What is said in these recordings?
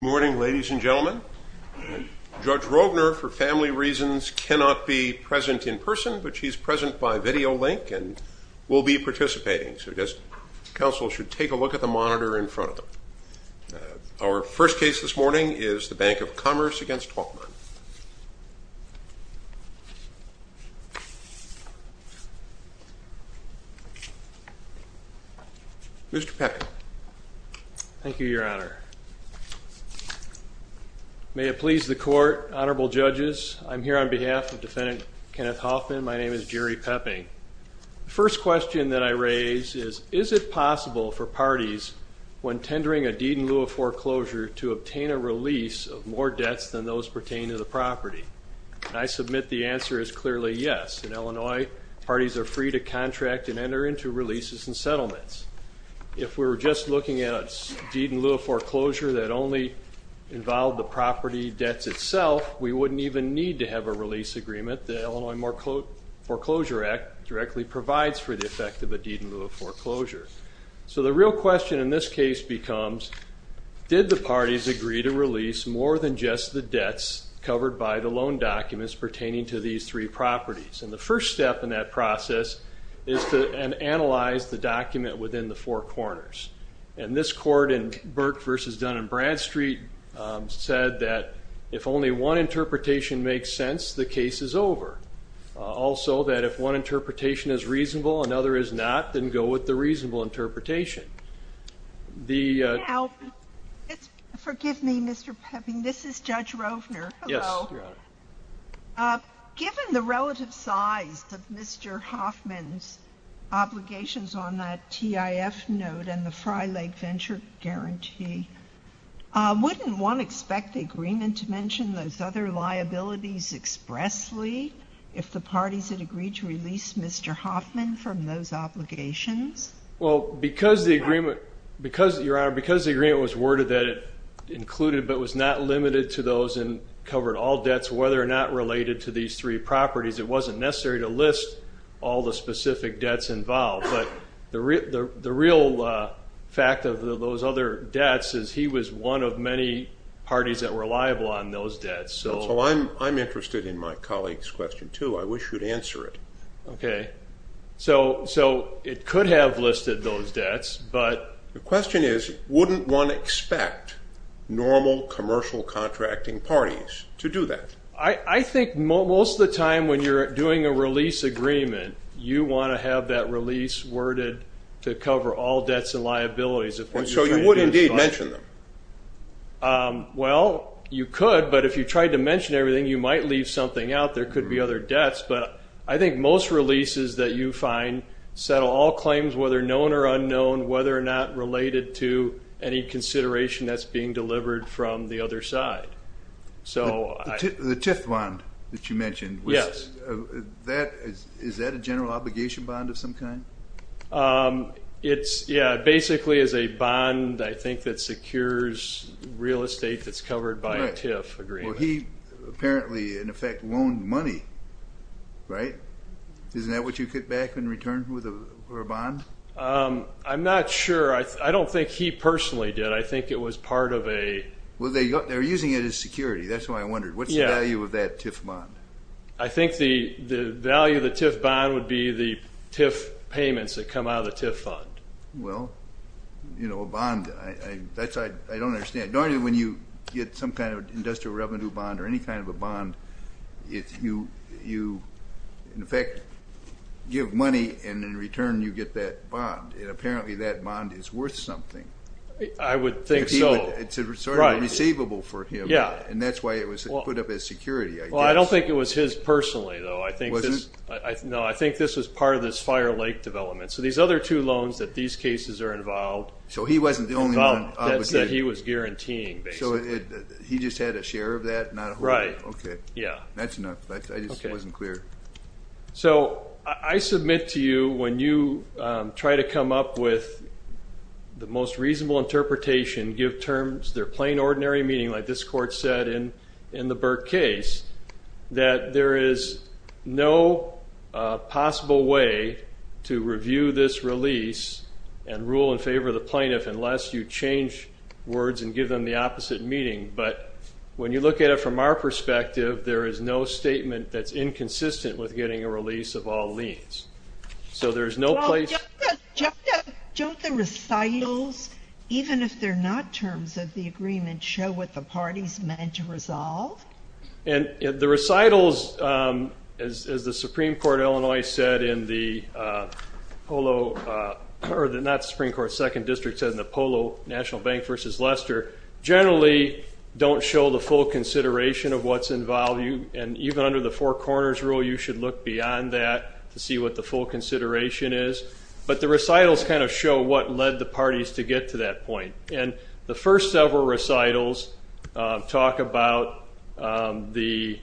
Good morning, ladies and gentlemen. Judge Rogner, for family reasons, cannot be present in person, but he's present by video link and will be participating, so I guess counsel should take a look at the monitor in front of them. Our first case this morning is the Bank of Commerce v. Hoffman. Mr. Peckin. Thank you, Your Honor. May it please the Court, Honorable Judges, I'm here on behalf of Defendant Kenneth Hoffman. My name is Jerry Pepping. First question that I raise is, is it possible for parties, when tendering a deed in lieu of foreclosure, to obtain a release of more debts than those pertaining to the property? I submit the answer is clearly yes. In Illinois, parties are free to contract and enter into releases and settlements. If we were just looking at a deed in lieu of foreclosure that only involved the property debts itself, we wouldn't even need to have a release agreement. The Illinois Foreclosure Act directly provides for the effect of a deed in lieu of foreclosure. So the real question in this case becomes, did the parties agree to release more than just the debts covered by the loan documents pertaining to these three properties? The first step in that process is to analyze the document within the four corners. This Court in Burke v. Dun & Bradstreet said that if only one interpretation makes sense, the case is over. Also that if one interpretation is reasonable, another is not, then go with the reasonable interpretation. Now, forgive me, Mr. Pepping, this is Judge Rovner. Hello. Yes, Your Honor. Given the relative size of Mr. Hoffman's obligations on that TIF note and the Fry Lake Venture Guarantee, wouldn't one expect the agreement to mention those other liabilities expressly if the parties had agreed to release Mr. Hoffman from those obligations? Well, because the agreement was worded that it included but was not limited to those and were not related to these three properties, it wasn't necessary to list all the specific debts involved. But the real fact of those other debts is he was one of many parties that were liable on those debts. So I'm interested in my colleague's question, too. I wish you'd answer it. Okay. So it could have listed those debts, but... The question is, wouldn't one expect normal commercial contracting parties to do that? I think most of the time when you're doing a release agreement, you want to have that release worded to cover all debts and liabilities. So you would indeed mention them? Well, you could, but if you tried to mention everything, you might leave something out. There could be other debts. But I think most releases that you find settle all claims, whether known or unknown, whether or not related to any consideration that's being delivered from the other side. The TIF bond that you mentioned, is that a general obligation bond of some kind? Yeah, it basically is a bond, I think, that secures real estate that's covered by a TIF agreement. Well, he apparently, in effect, loaned money, right? Isn't that what you get back in return for a bond? I'm not sure. I don't think he personally did. I think it was part of a... Well, they're using it as security. That's why I wondered. What's the value of that TIF bond? I think the value of the TIF bond would be the TIF payments that come out of the TIF fund. Well, you know, a bond, I don't understand. Normally when you get some kind of industrial revenue bond or any kind of a bond, you, in effect, give money, and in return you get that bond. And apparently that bond is worth something. I would think so. It's sort of receivable for him, and that's why it was put up as security, I guess. Well, I don't think it was his personally, though. It wasn't? No, I think this was part of this Fire Lake development. So these other two loans that these cases are involved... So he wasn't the only one obligated? That he was guaranteeing, basically. So he just had a share of that, not a whole lot? Right. Okay. That's enough. I just wasn't clear. So I submit to you, when you try to come up with the most reasonable interpretation, give terms that are plain, ordinary meaning, like this court said in the Burke case, that there is no possible way to review this release and rule in favor of the plaintiff unless you change words and give them the opposite meaning. But when you look at it from our perspective, there is no statement that's inconsistent with getting a release of all liens. So there's no place... Well, don't the recitals, even if they're not terms of the agreement, show what the party's meant to resolve? And the recitals, as the Supreme Court of Illinois said in the Polo... Or not the Supreme Court, Second District said in the Polo National Bank v. Lester, generally don't show the full consideration of what's involved. And even under the Four Corners Rule, you should look beyond that to see what the full consideration is. But the recitals kind of show what led the parties to get to that point. And the first several recitals talk about the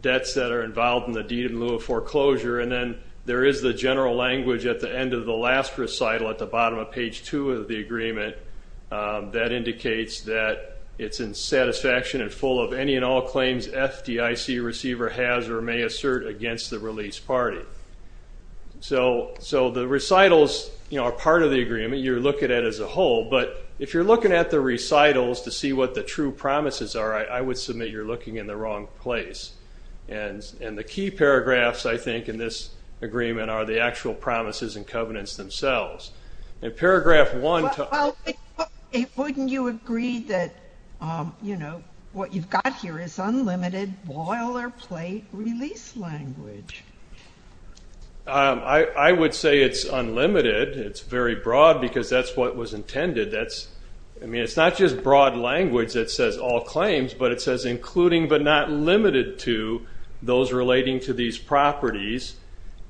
debts that are involved in the deed in lieu of foreclosure, and then there is the general language at the end of the last recital at the bottom of page two of the agreement that indicates that it's in satisfaction and full of any and all claims FDIC receiver has or may assert against the release party. So the recitals are part of the agreement, you're looking at it as a whole, but if you're looking at the recitals to see what the true promises are, I would submit you're looking in the wrong place. And the key paragraphs, I think, in this agreement are the actual promises and covenants themselves. In paragraph one... Well, wouldn't you agree that what you've got here is unlimited boilerplate release language? I would say it's unlimited. It's very broad because that's what was intended. I mean, it's not just broad language that says all claims, but it says including but not limited to those relating to these properties.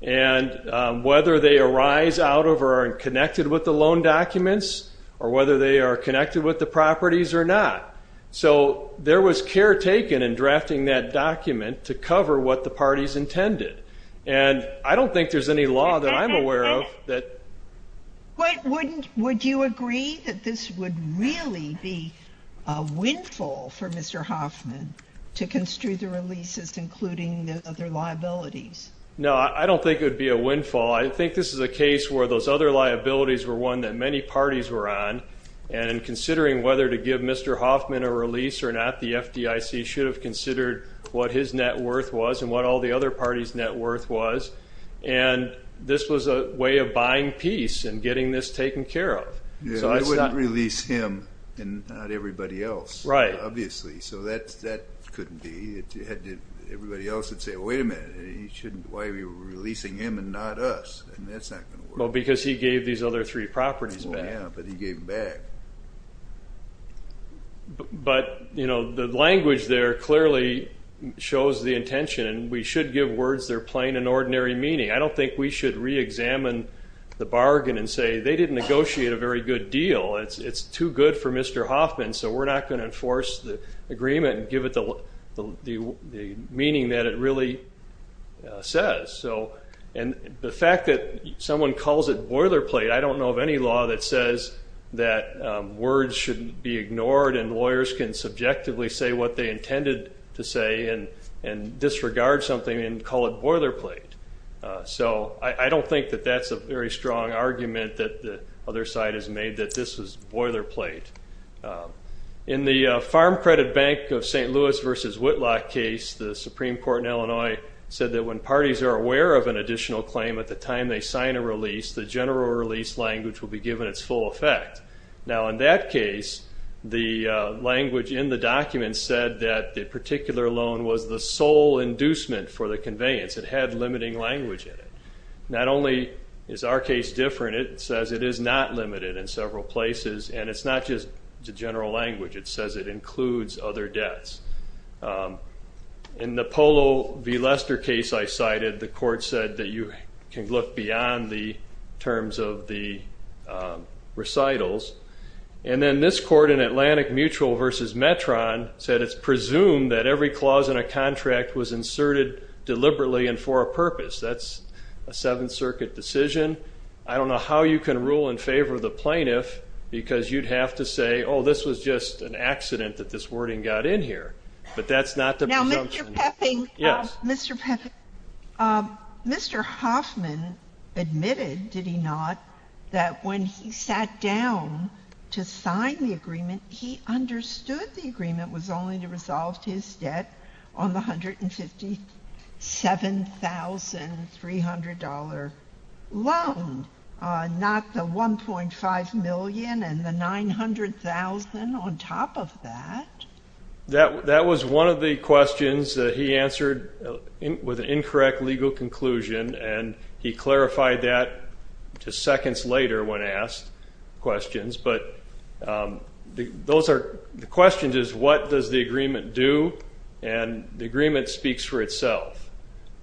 And whether they arise out of or are connected with the loan documents or whether they are connected with the properties or not. So there was care taken in drafting that document to cover what the parties intended. And I don't think there's any law that I'm aware of that... Would you agree that this would really be a windfall for Mr. Hoffman to construe the other liabilities? No, I don't think it would be a windfall. I think this is a case where those other liabilities were one that many parties were on. And in considering whether to give Mr. Hoffman a release or not, the FDIC should have considered what his net worth was and what all the other parties' net worth was. And this was a way of buying peace and getting this taken care of. It wouldn't release him and not everybody else, obviously. So that couldn't be. Everybody else would say, wait a minute, why are you releasing him and not us? And that's not going to work. Well, because he gave these other three properties back. Well, yeah, but he gave them back. But the language there clearly shows the intention. And we should give words that are plain and ordinary meaning. I don't think we should reexamine the bargain and say they didn't negotiate a very good deal. It's too good for Mr. Hoffman, so we're not going to enforce the agreement and give it the meaning that it really says. And the fact that someone calls it boilerplate, I don't know of any law that says that words shouldn't be ignored and lawyers can subjectively say what they intended to say and disregard something and call it boilerplate. So I don't think that that's a very strong argument that the other side has made, that this is boilerplate. In the Farm Credit Bank of St. Louis v. Whitlock case, the Supreme Court in Illinois said that when parties are aware of an additional claim at the time they sign a release, the general release language will be given its full effect. Now, in that case, the language in the document said that the particular loan was the sole inducement for the conveyance. It had limiting language in it. Not only is our case different, it says it is not limited in several places, and it's not just the general language. It says it includes other debts. In the Polo v. Lester case I cited, the court said that you can look beyond the terms of the recitals. And then this court in Atlantic Mutual v. Metron said it's presumed that every clause in a contract was inserted deliberately and for a purpose. That's a Seventh Circuit decision. I don't know how you can rule in favor of the plaintiff because you'd have to say, oh, this was just an accident that this wording got in here. But that's not the presumption. Now, Mr. Peffing, Mr. Hoffman admitted, did he not, he understood the agreement was only to resolve his debt on the $157,300 loan, not the $1.5 million and the $900,000 on top of that? That was one of the questions that he answered with an incorrect legal conclusion, and he clarified that just seconds later when asked questions. But the question is, what does the agreement do? And the agreement speaks for itself.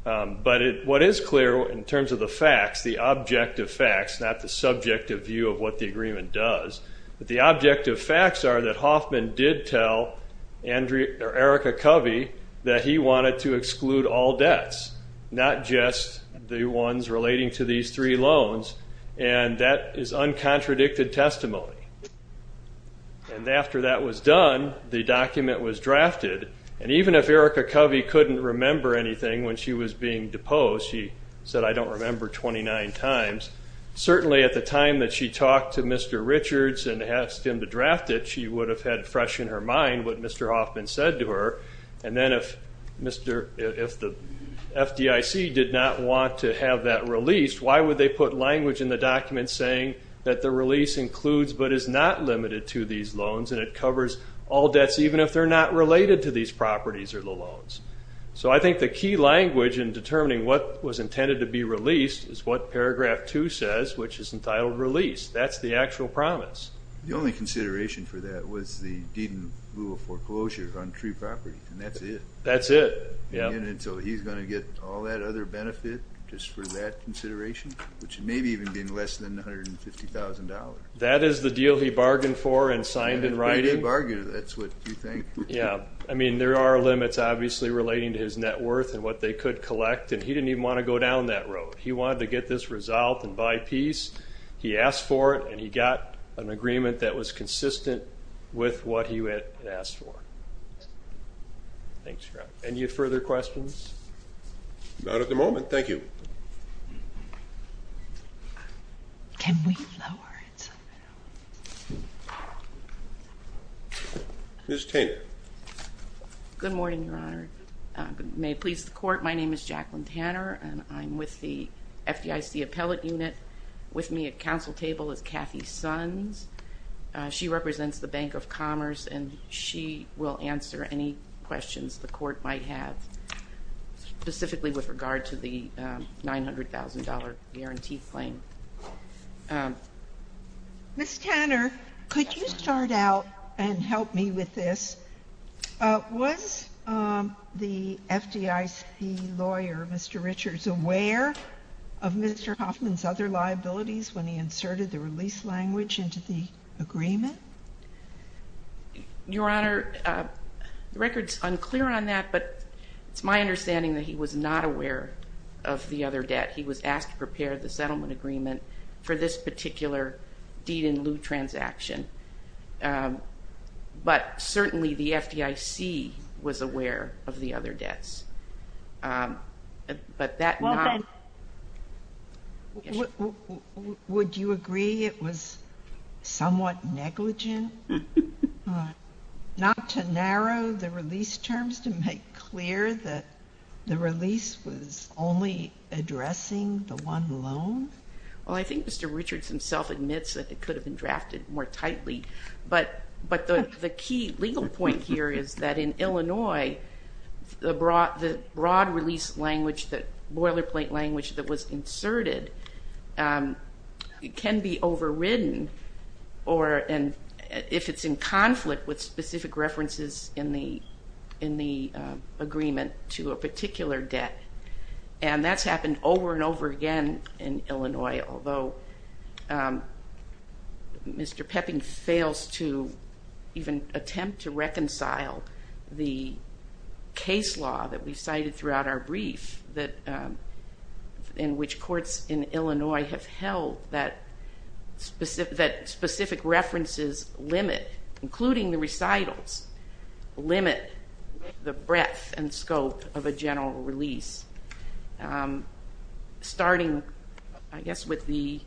But what is clear in terms of the facts, the objective facts, not the subjective view of what the agreement does, the objective facts are that Hoffman did tell Erica Covey that he wanted to exclude all debts, not just the ones relating to these three loans. And that is uncontradicted testimony. And after that was done, the document was drafted. And even if Erica Covey couldn't remember anything when she was being deposed, she said, I don't remember, 29 times, certainly at the time that she talked to Mr. Richards and asked him to draft it, she would have had fresh in her mind what Mr. Hoffman said to her. And then if the FDIC did not want to have that released, why would they put language in the document saying that the release includes but is not limited to these loans, and it covers all debts even if they're not related to these properties or the loans? So I think the key language in determining what was intended to be released is what Paragraph 2 says, which is entitled Release. That's the actual promise. The only consideration for that was the deed in lieu of foreclosure on three properties, and that's it. That's it, yeah. And so he's going to get all that other benefit just for that consideration, which may be even being less than $150,000. That is the deal he bargained for and signed in writing. That's what you think. Yeah. I mean, there are limits obviously relating to his net worth and what they could collect, and he didn't even want to go down that road. He wanted to get this resolved and buy peace. He asked for it, and he got an agreement that was consistent with what he had asked for. Thanks, Scott. Any further questions? Not at the moment. Thank you. Ms. Tanner. Good morning, Your Honor. May it please the Court, my name is Jacqueline Tanner, and I'm with the FDIC Appellate Unit. With me at council table is Kathy Sons. She represents the Bank of Commerce, and she will answer any questions the Court might have, specifically with regard to the $900,000 guarantee claim. Ms. Tanner, could you start out and help me with this? Was the FDIC lawyer, Mr. Richards, aware of Mr. Hoffman's other liabilities when he inserted the release language into the agreement? Your Honor, the record is unclear on that, but it's my understanding that he was not aware of the other debt. He was asked to prepare the settlement agreement for this particular deed-in-lieu transaction, but certainly the FDIC was aware of the other debts. Would you agree it was somewhat negligent not to narrow the release terms to make clear that the release was only addressing the one loan? Well, I think Mr. Richards himself admits that it could have been drafted more tightly, but the key legal point here is that in Illinois, the broad release language, the boilerplate language, that was inserted can be overridden if it's in conflict with specific references in the agreement to a particular debt, and that's happened over and over again in Illinois, although Mr. Pepping fails to even attempt to reconcile the case law that we cited throughout our brief in which courts in Illinois have held that specific references limit, including the recitals, limit the breadth and scope of a general release. Starting, I guess, with the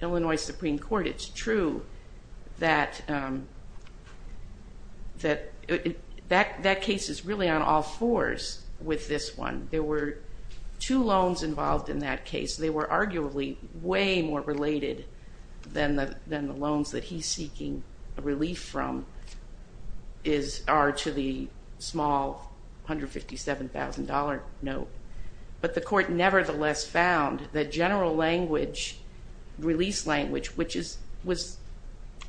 Illinois Supreme Court, it's true that that case is really on all fours with this one. There were two loans involved in that case. They were arguably way more related than the loans that he's seeking relief from are to the small $157,000 note, but the court nevertheless found that general language, release language, which was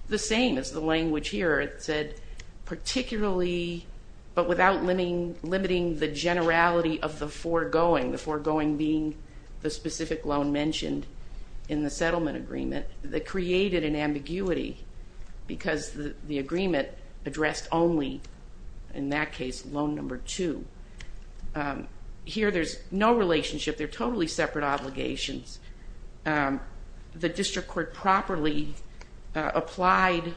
the same as the language here. It said particularly, but without limiting the generality of the foregoing, the foregoing being the specific loan mentioned in the settlement agreement, that created an ambiguity because the agreement addressed only, in that case, loan number two. Here there's no relationship. They're totally separate obligations. The district court properly applied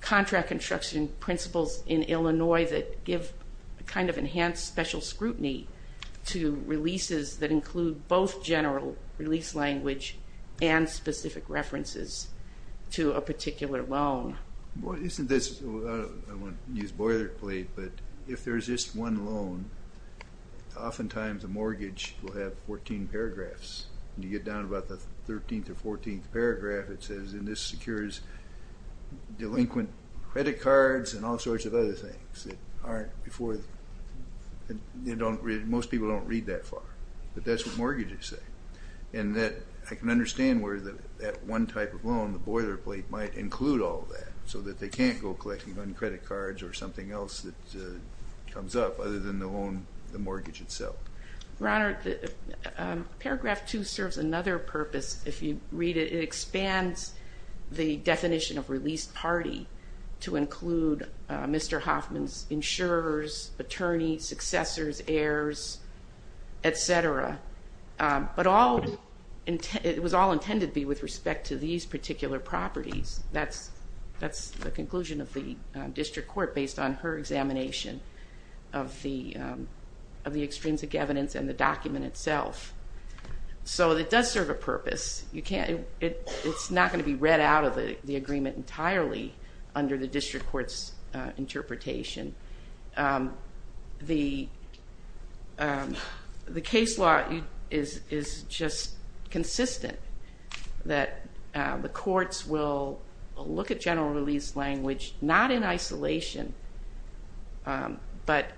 contract construction principles in Illinois that give a kind of enhanced special scrutiny to releases that include both general release language and specific references to a particular loan. Isn't this, I want to use boilerplate, but if there's just one loan, oftentimes a mortgage will have 14 paragraphs. When you get down to about the 13th or 14th paragraph, it says, and this secures delinquent credit cards and all sorts of other things. Most people don't read that far, but that's what mortgages say. I can understand where that one type of loan, the boilerplate, might include all that so that they can't go collecting un-credit cards or something else that comes up other than the loan, the mortgage itself. Your Honor, paragraph two serves another purpose. If you read it, it expands the definition of released party to include Mr. Hoffman's insurers, attorneys, successors, heirs, et cetera. But it was all intended to be with respect to these particular properties. That's the conclusion of the district court based on her examination of the extrinsic evidence and the document itself. So it does serve a purpose. It's not going to be read out of the agreement entirely under the district court's interpretation. The case law is just consistent that the courts will look at general release language not in isolation, but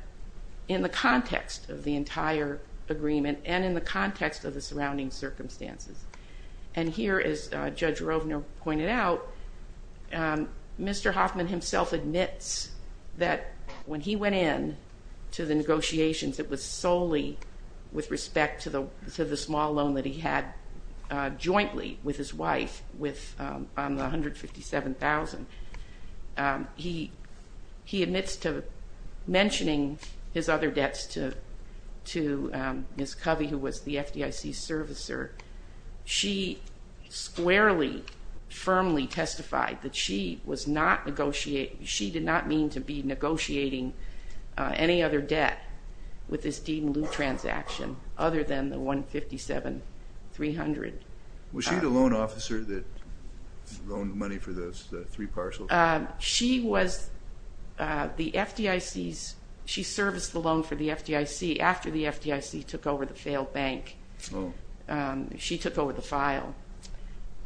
in the context of the entire agreement and in the context of the surrounding circumstances. And here, as Judge Rovner pointed out, Mr. Hoffman himself admits that when he went in to the negotiations, it was solely with respect to the small loan that he had jointly with his wife on the $157,000. He admits to mentioning his other debts to Ms. Covey, who was the FDIC servicer. She squarely, firmly testified that she did not mean to be negotiating any other debt with this deed-in-lieu transaction other than the $157,300. Was she the loan officer that loaned money for those three parcels? She was the FDIC's. She serviced the loan for the FDIC after the FDIC took over the failed bank. She took over the file.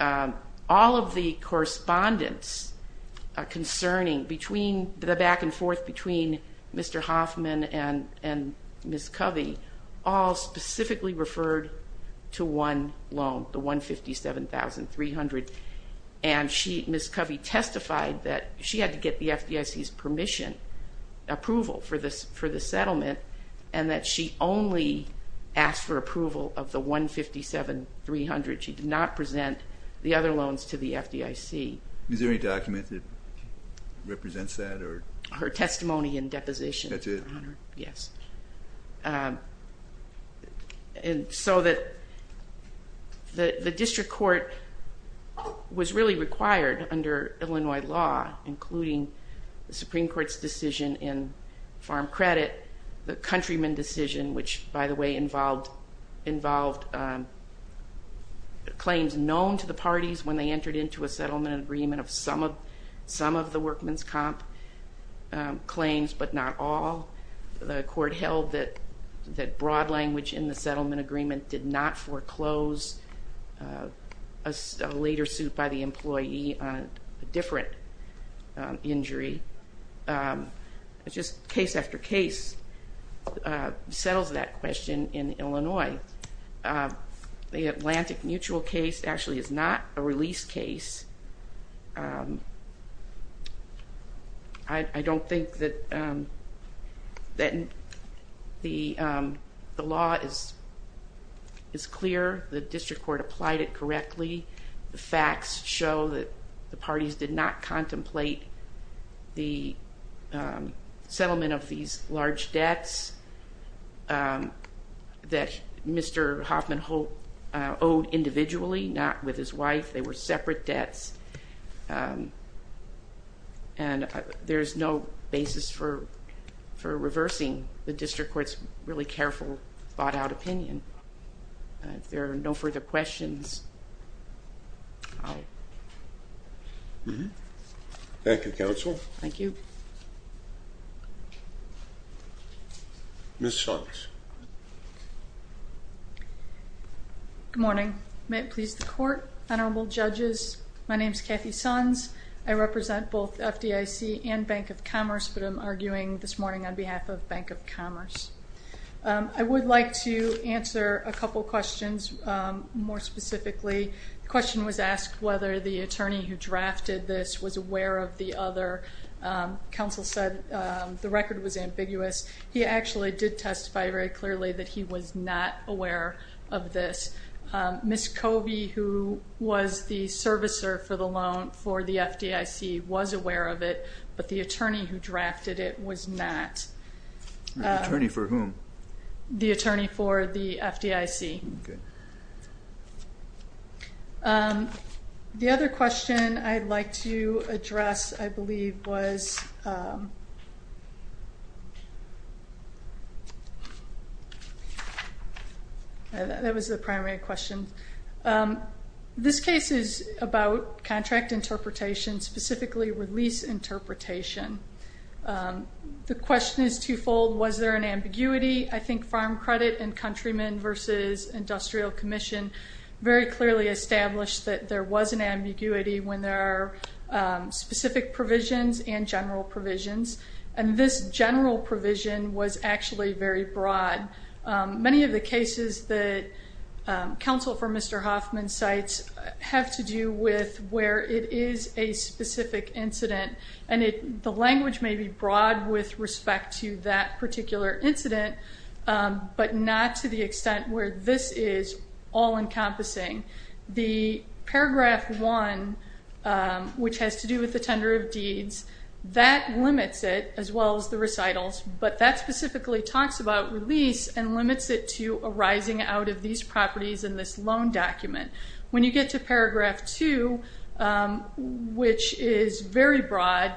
All of the correspondence concerning the back-and-forth between Mr. Hoffman and Ms. Covey all specifically referred to one loan, the $157,300. And Ms. Covey testified that she had to get the FDIC's permission, approval for the settlement, and that she only asked for approval of the $157,300. She did not present the other loans to the FDIC. Is there any document that represents that? Her testimony and deposition, Your Honor. That's it? Yes. And so the district court was really required under Illinois law, including the Supreme Court's decision in farm credit, the Countryman decision, which, by the way, involved claims known to the parties when they entered into a settlement agreement of some of the workman's comp claims, but not all. The court held that broad language in the settlement agreement did not foreclose a later suit by the employee on a different injury. Just case after case settles that question in Illinois. The Atlantic Mutual case actually is not a release case. I don't think that the law is clear. The district court applied it correctly. The facts show that the parties did not contemplate the settlement of these large debts that Mr. Hoffman owed individually, not with his wife. They were separate debts. And there's no basis for reversing the district court's really careful, thought-out opinion. If there are no further questions, I'll... Thank you, counsel. Thank you. Ms. Sonks. Good morning. May it please the court, honorable judges, my name is Kathy Sonks. I represent both FDIC and Bank of Commerce, but I'm arguing this morning on behalf of Bank of Commerce. I would like to answer a couple questions more specifically. The question was asked whether the attorney who drafted this was aware of the other. Counsel said the record was ambiguous. He actually did testify very clearly that he was not aware of this. Ms. Covey, who was the servicer for the loan for the FDIC, was aware of it, but the attorney who drafted it was not. The attorney for whom? The attorney for the FDIC. Okay. The other question I'd like to address, I believe, was... That was the primary question. This case is about contract interpretation, specifically with lease interpretation. The question is twofold. Was there an ambiguity? I think Farm Credit and Countrymen v. Industrial Commission very clearly established that there was an ambiguity when there are specific provisions and general provisions, and this general provision was actually very broad. Many of the cases that counsel for Mr. Hoffman cites have to do with where it is a specific incident, and the language may be broad with respect to that particular incident, but not to the extent where this is all-encompassing. The Paragraph 1, which has to do with the tender of deeds, that limits it, as well as the recitals, but that specifically talks about release and limits it to arising out of these properties in this loan document. When you get to Paragraph 2, which is very broad,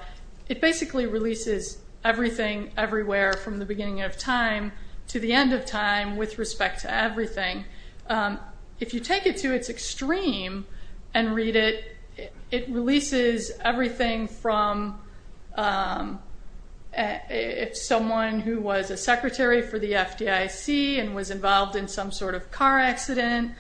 it basically releases everything, everywhere from the beginning of time to the end of time with respect to everything. If you take it to its extreme and read it, it releases everything from if someone who was a secretary for the FDIC and was involved in some sort of car accident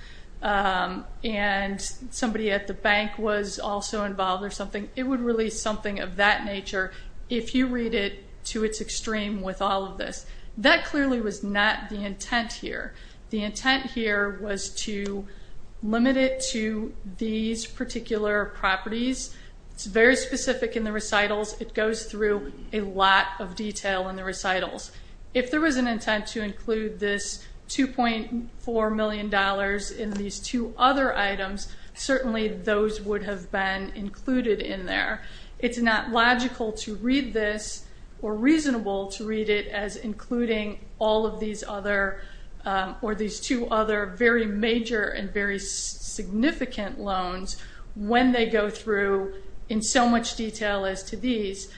and somebody at the bank was also involved or something, it would release something of that nature if you read it to its extreme with all of this. That clearly was not the intent here. The intent here was to limit it to these particular properties. It's very specific in the recitals. It goes through a lot of detail in the recitals. If there was an intent to include this $2.4 million in these two other items, certainly those would have been included in there. It's not logical to read this or reasonable to read it as including all of these other or these two other very major and very significant loans when they go through in so much detail as to these.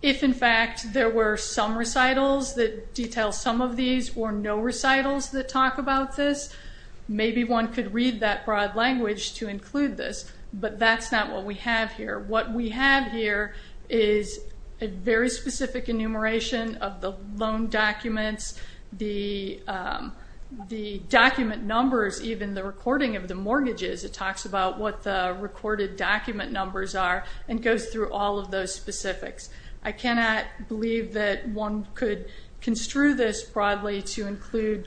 If, in fact, there were some recitals that detail some of these or no recitals that talk about this, maybe one could read that broad language to include this, but that's not what we have here. What we have here is a very specific enumeration of the loan documents, the document numbers, even the recording of the mortgages. It talks about what the recorded document numbers are and goes through all of those specifics. I cannot believe that one could construe this broadly to include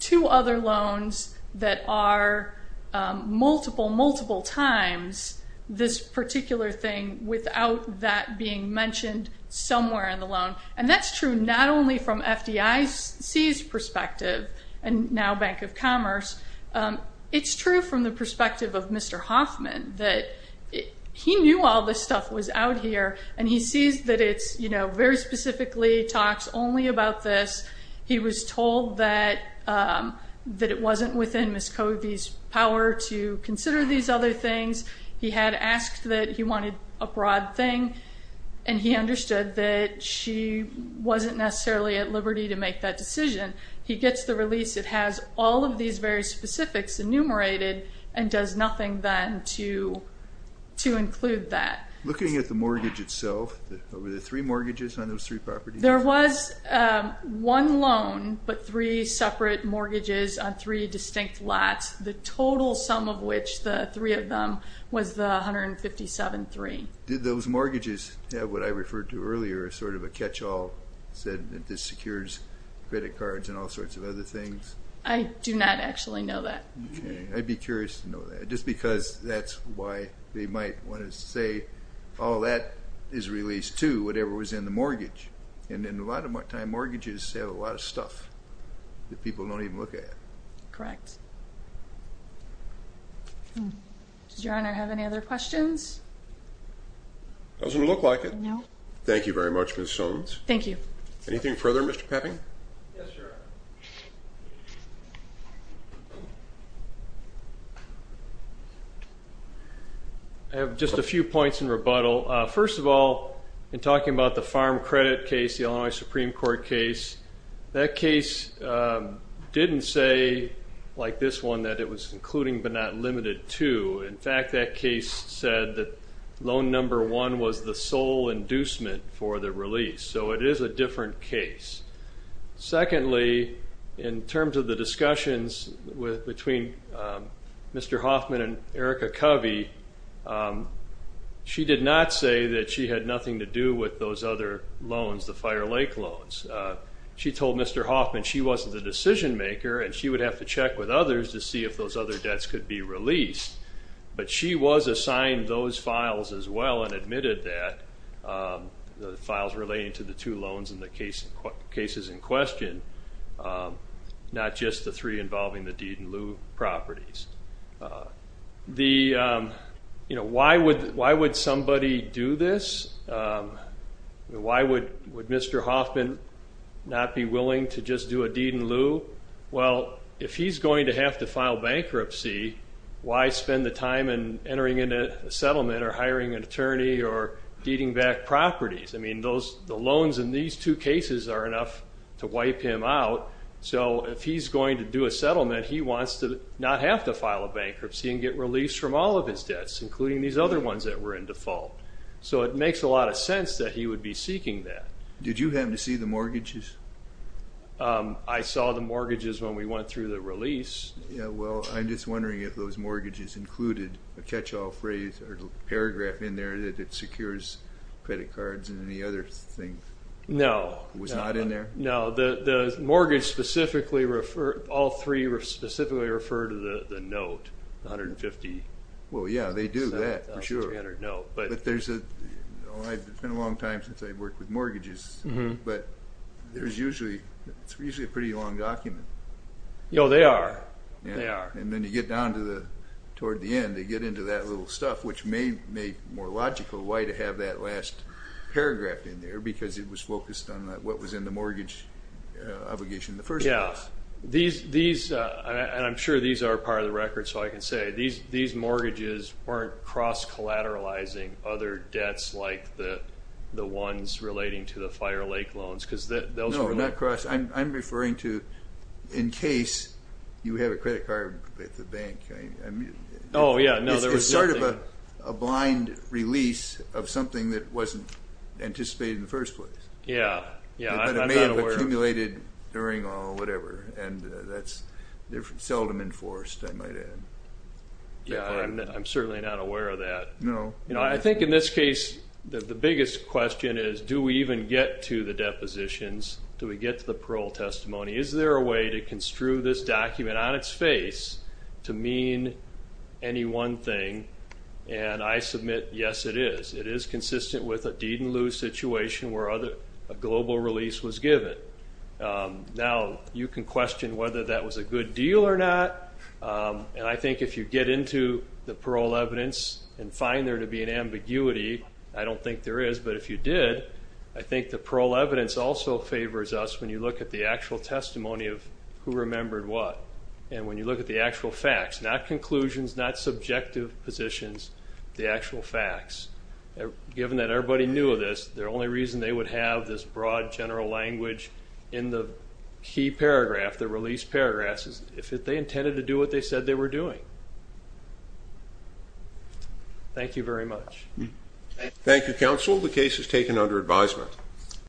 two other loans that are multiple, multiple times this particular thing without that being mentioned somewhere in the loan. That's true not only from FDIC's perspective and now Bank of Commerce. It's true from the perspective of Mr. Hoffman that he knew all this stuff was out here, and he sees that it's very specifically talks only about this. He was told that it wasn't within Ms. Covey's power to consider these other things. He had asked that he wanted a broad thing, and he understood that she wasn't necessarily at liberty to make that decision. He gets the release. It has all of these very specifics enumerated and does nothing then to include that. Looking at the mortgage itself, were there three mortgages on those three properties? There was one loan but three separate mortgages on three distinct lots, the total sum of which, the three of them, was the $157,300. Did those mortgages have what I referred to earlier as sort of a catch-all, said that this secures credit cards and all sorts of other things? I do not actually know that. Okay. I'd be curious to know that just because that's why they might want to say, oh, that is released too, whatever was in the mortgage. And a lot of times mortgages have a lot of stuff that people don't even look at. Correct. Does Your Honor have any other questions? Doesn't look like it. No. Thank you very much, Ms. Soames. Thank you. Anything further, Mr. Pepping? Yes, Your Honor. I have just a few points in rebuttal. First of all, in talking about the farm credit case, the Illinois Supreme Court case, that case didn't say, like this one, that it was including but not limited to. In fact, that case said that loan number one was the sole inducement for the release. So it is a different case. Secondly, in terms of the discussions between Mr. Hoffman and Erica Covey, she did not say that she had nothing to do with those other loans, the Fire Lake loans. She told Mr. Hoffman she wasn't the decision maker and she would have to check with others to see if those other debts could be released. But she was assigned those files as well and admitted that, the files relating to the two loans in the cases in question, not just the three involving the deed-in-lieu properties. Why would somebody do this? Why would Mr. Hoffman not be willing to just do a deed-in-lieu? Well, if he's going to have to file bankruptcy, why spend the time entering into a settlement or hiring an attorney or deeding back properties? I mean, the loans in these two cases are enough to wipe him out. So if he's going to do a settlement, he wants to not have to file a bankruptcy and get release from all of his debts, including these other ones that were in default. So it makes a lot of sense that he would be seeking that. Did you happen to see the mortgages? I saw the mortgages when we went through the release. Yeah, well, I'm just wondering if those mortgages included a catch-all phrase or paragraph in there that it secures credit cards and any other thing. No. It was not in there? No. The mortgage specifically referred, all three specifically referred to the note, the 150. Well, yeah, they do that for sure. But there's a, well, it's been a long time since I've worked with mortgages, but there's usually a pretty long document. Oh, they are. And then you get down toward the end, you get into that little stuff, which may make more logical why to have that last paragraph in there, because it was focused on what was in the mortgage obligation in the first place. Yeah. And I'm sure these are part of the record, so I can say these mortgages weren't cross-collateralizing other debts like the ones relating to the Fire Lake loans. No, not cross. I'm referring to in case you have a credit card at the bank. Oh, yeah, no. It's sort of a blind release of something that wasn't anticipated in the first place. Yeah, yeah. But it may have accumulated during or whatever, and that's seldom enforced, I might add. Yeah, I'm certainly not aware of that. No. I think in this case the biggest question is do we even get to the depositions, do we get to the parole testimony, is there a way to construe this document on its face to mean any one thing? And I submit, yes, it is. It is consistent with a deed-in-lieu situation where a global release was given. Now, you can question whether that was a good deal or not, and I think if you get into the parole evidence and find there to be an ambiguity, I don't think there is. But if you did, I think the parole evidence also favors us when you look at the actual testimony of who remembered what and when you look at the actual facts, not conclusions, not subjective positions, the actual facts. Given that everybody knew of this, the only reason they would have this broad general language in the key paragraph, the release paragraph, is if they intended to do what they said they were doing. Thank you very much. Thank you, Counsel. The case is taken under advisement.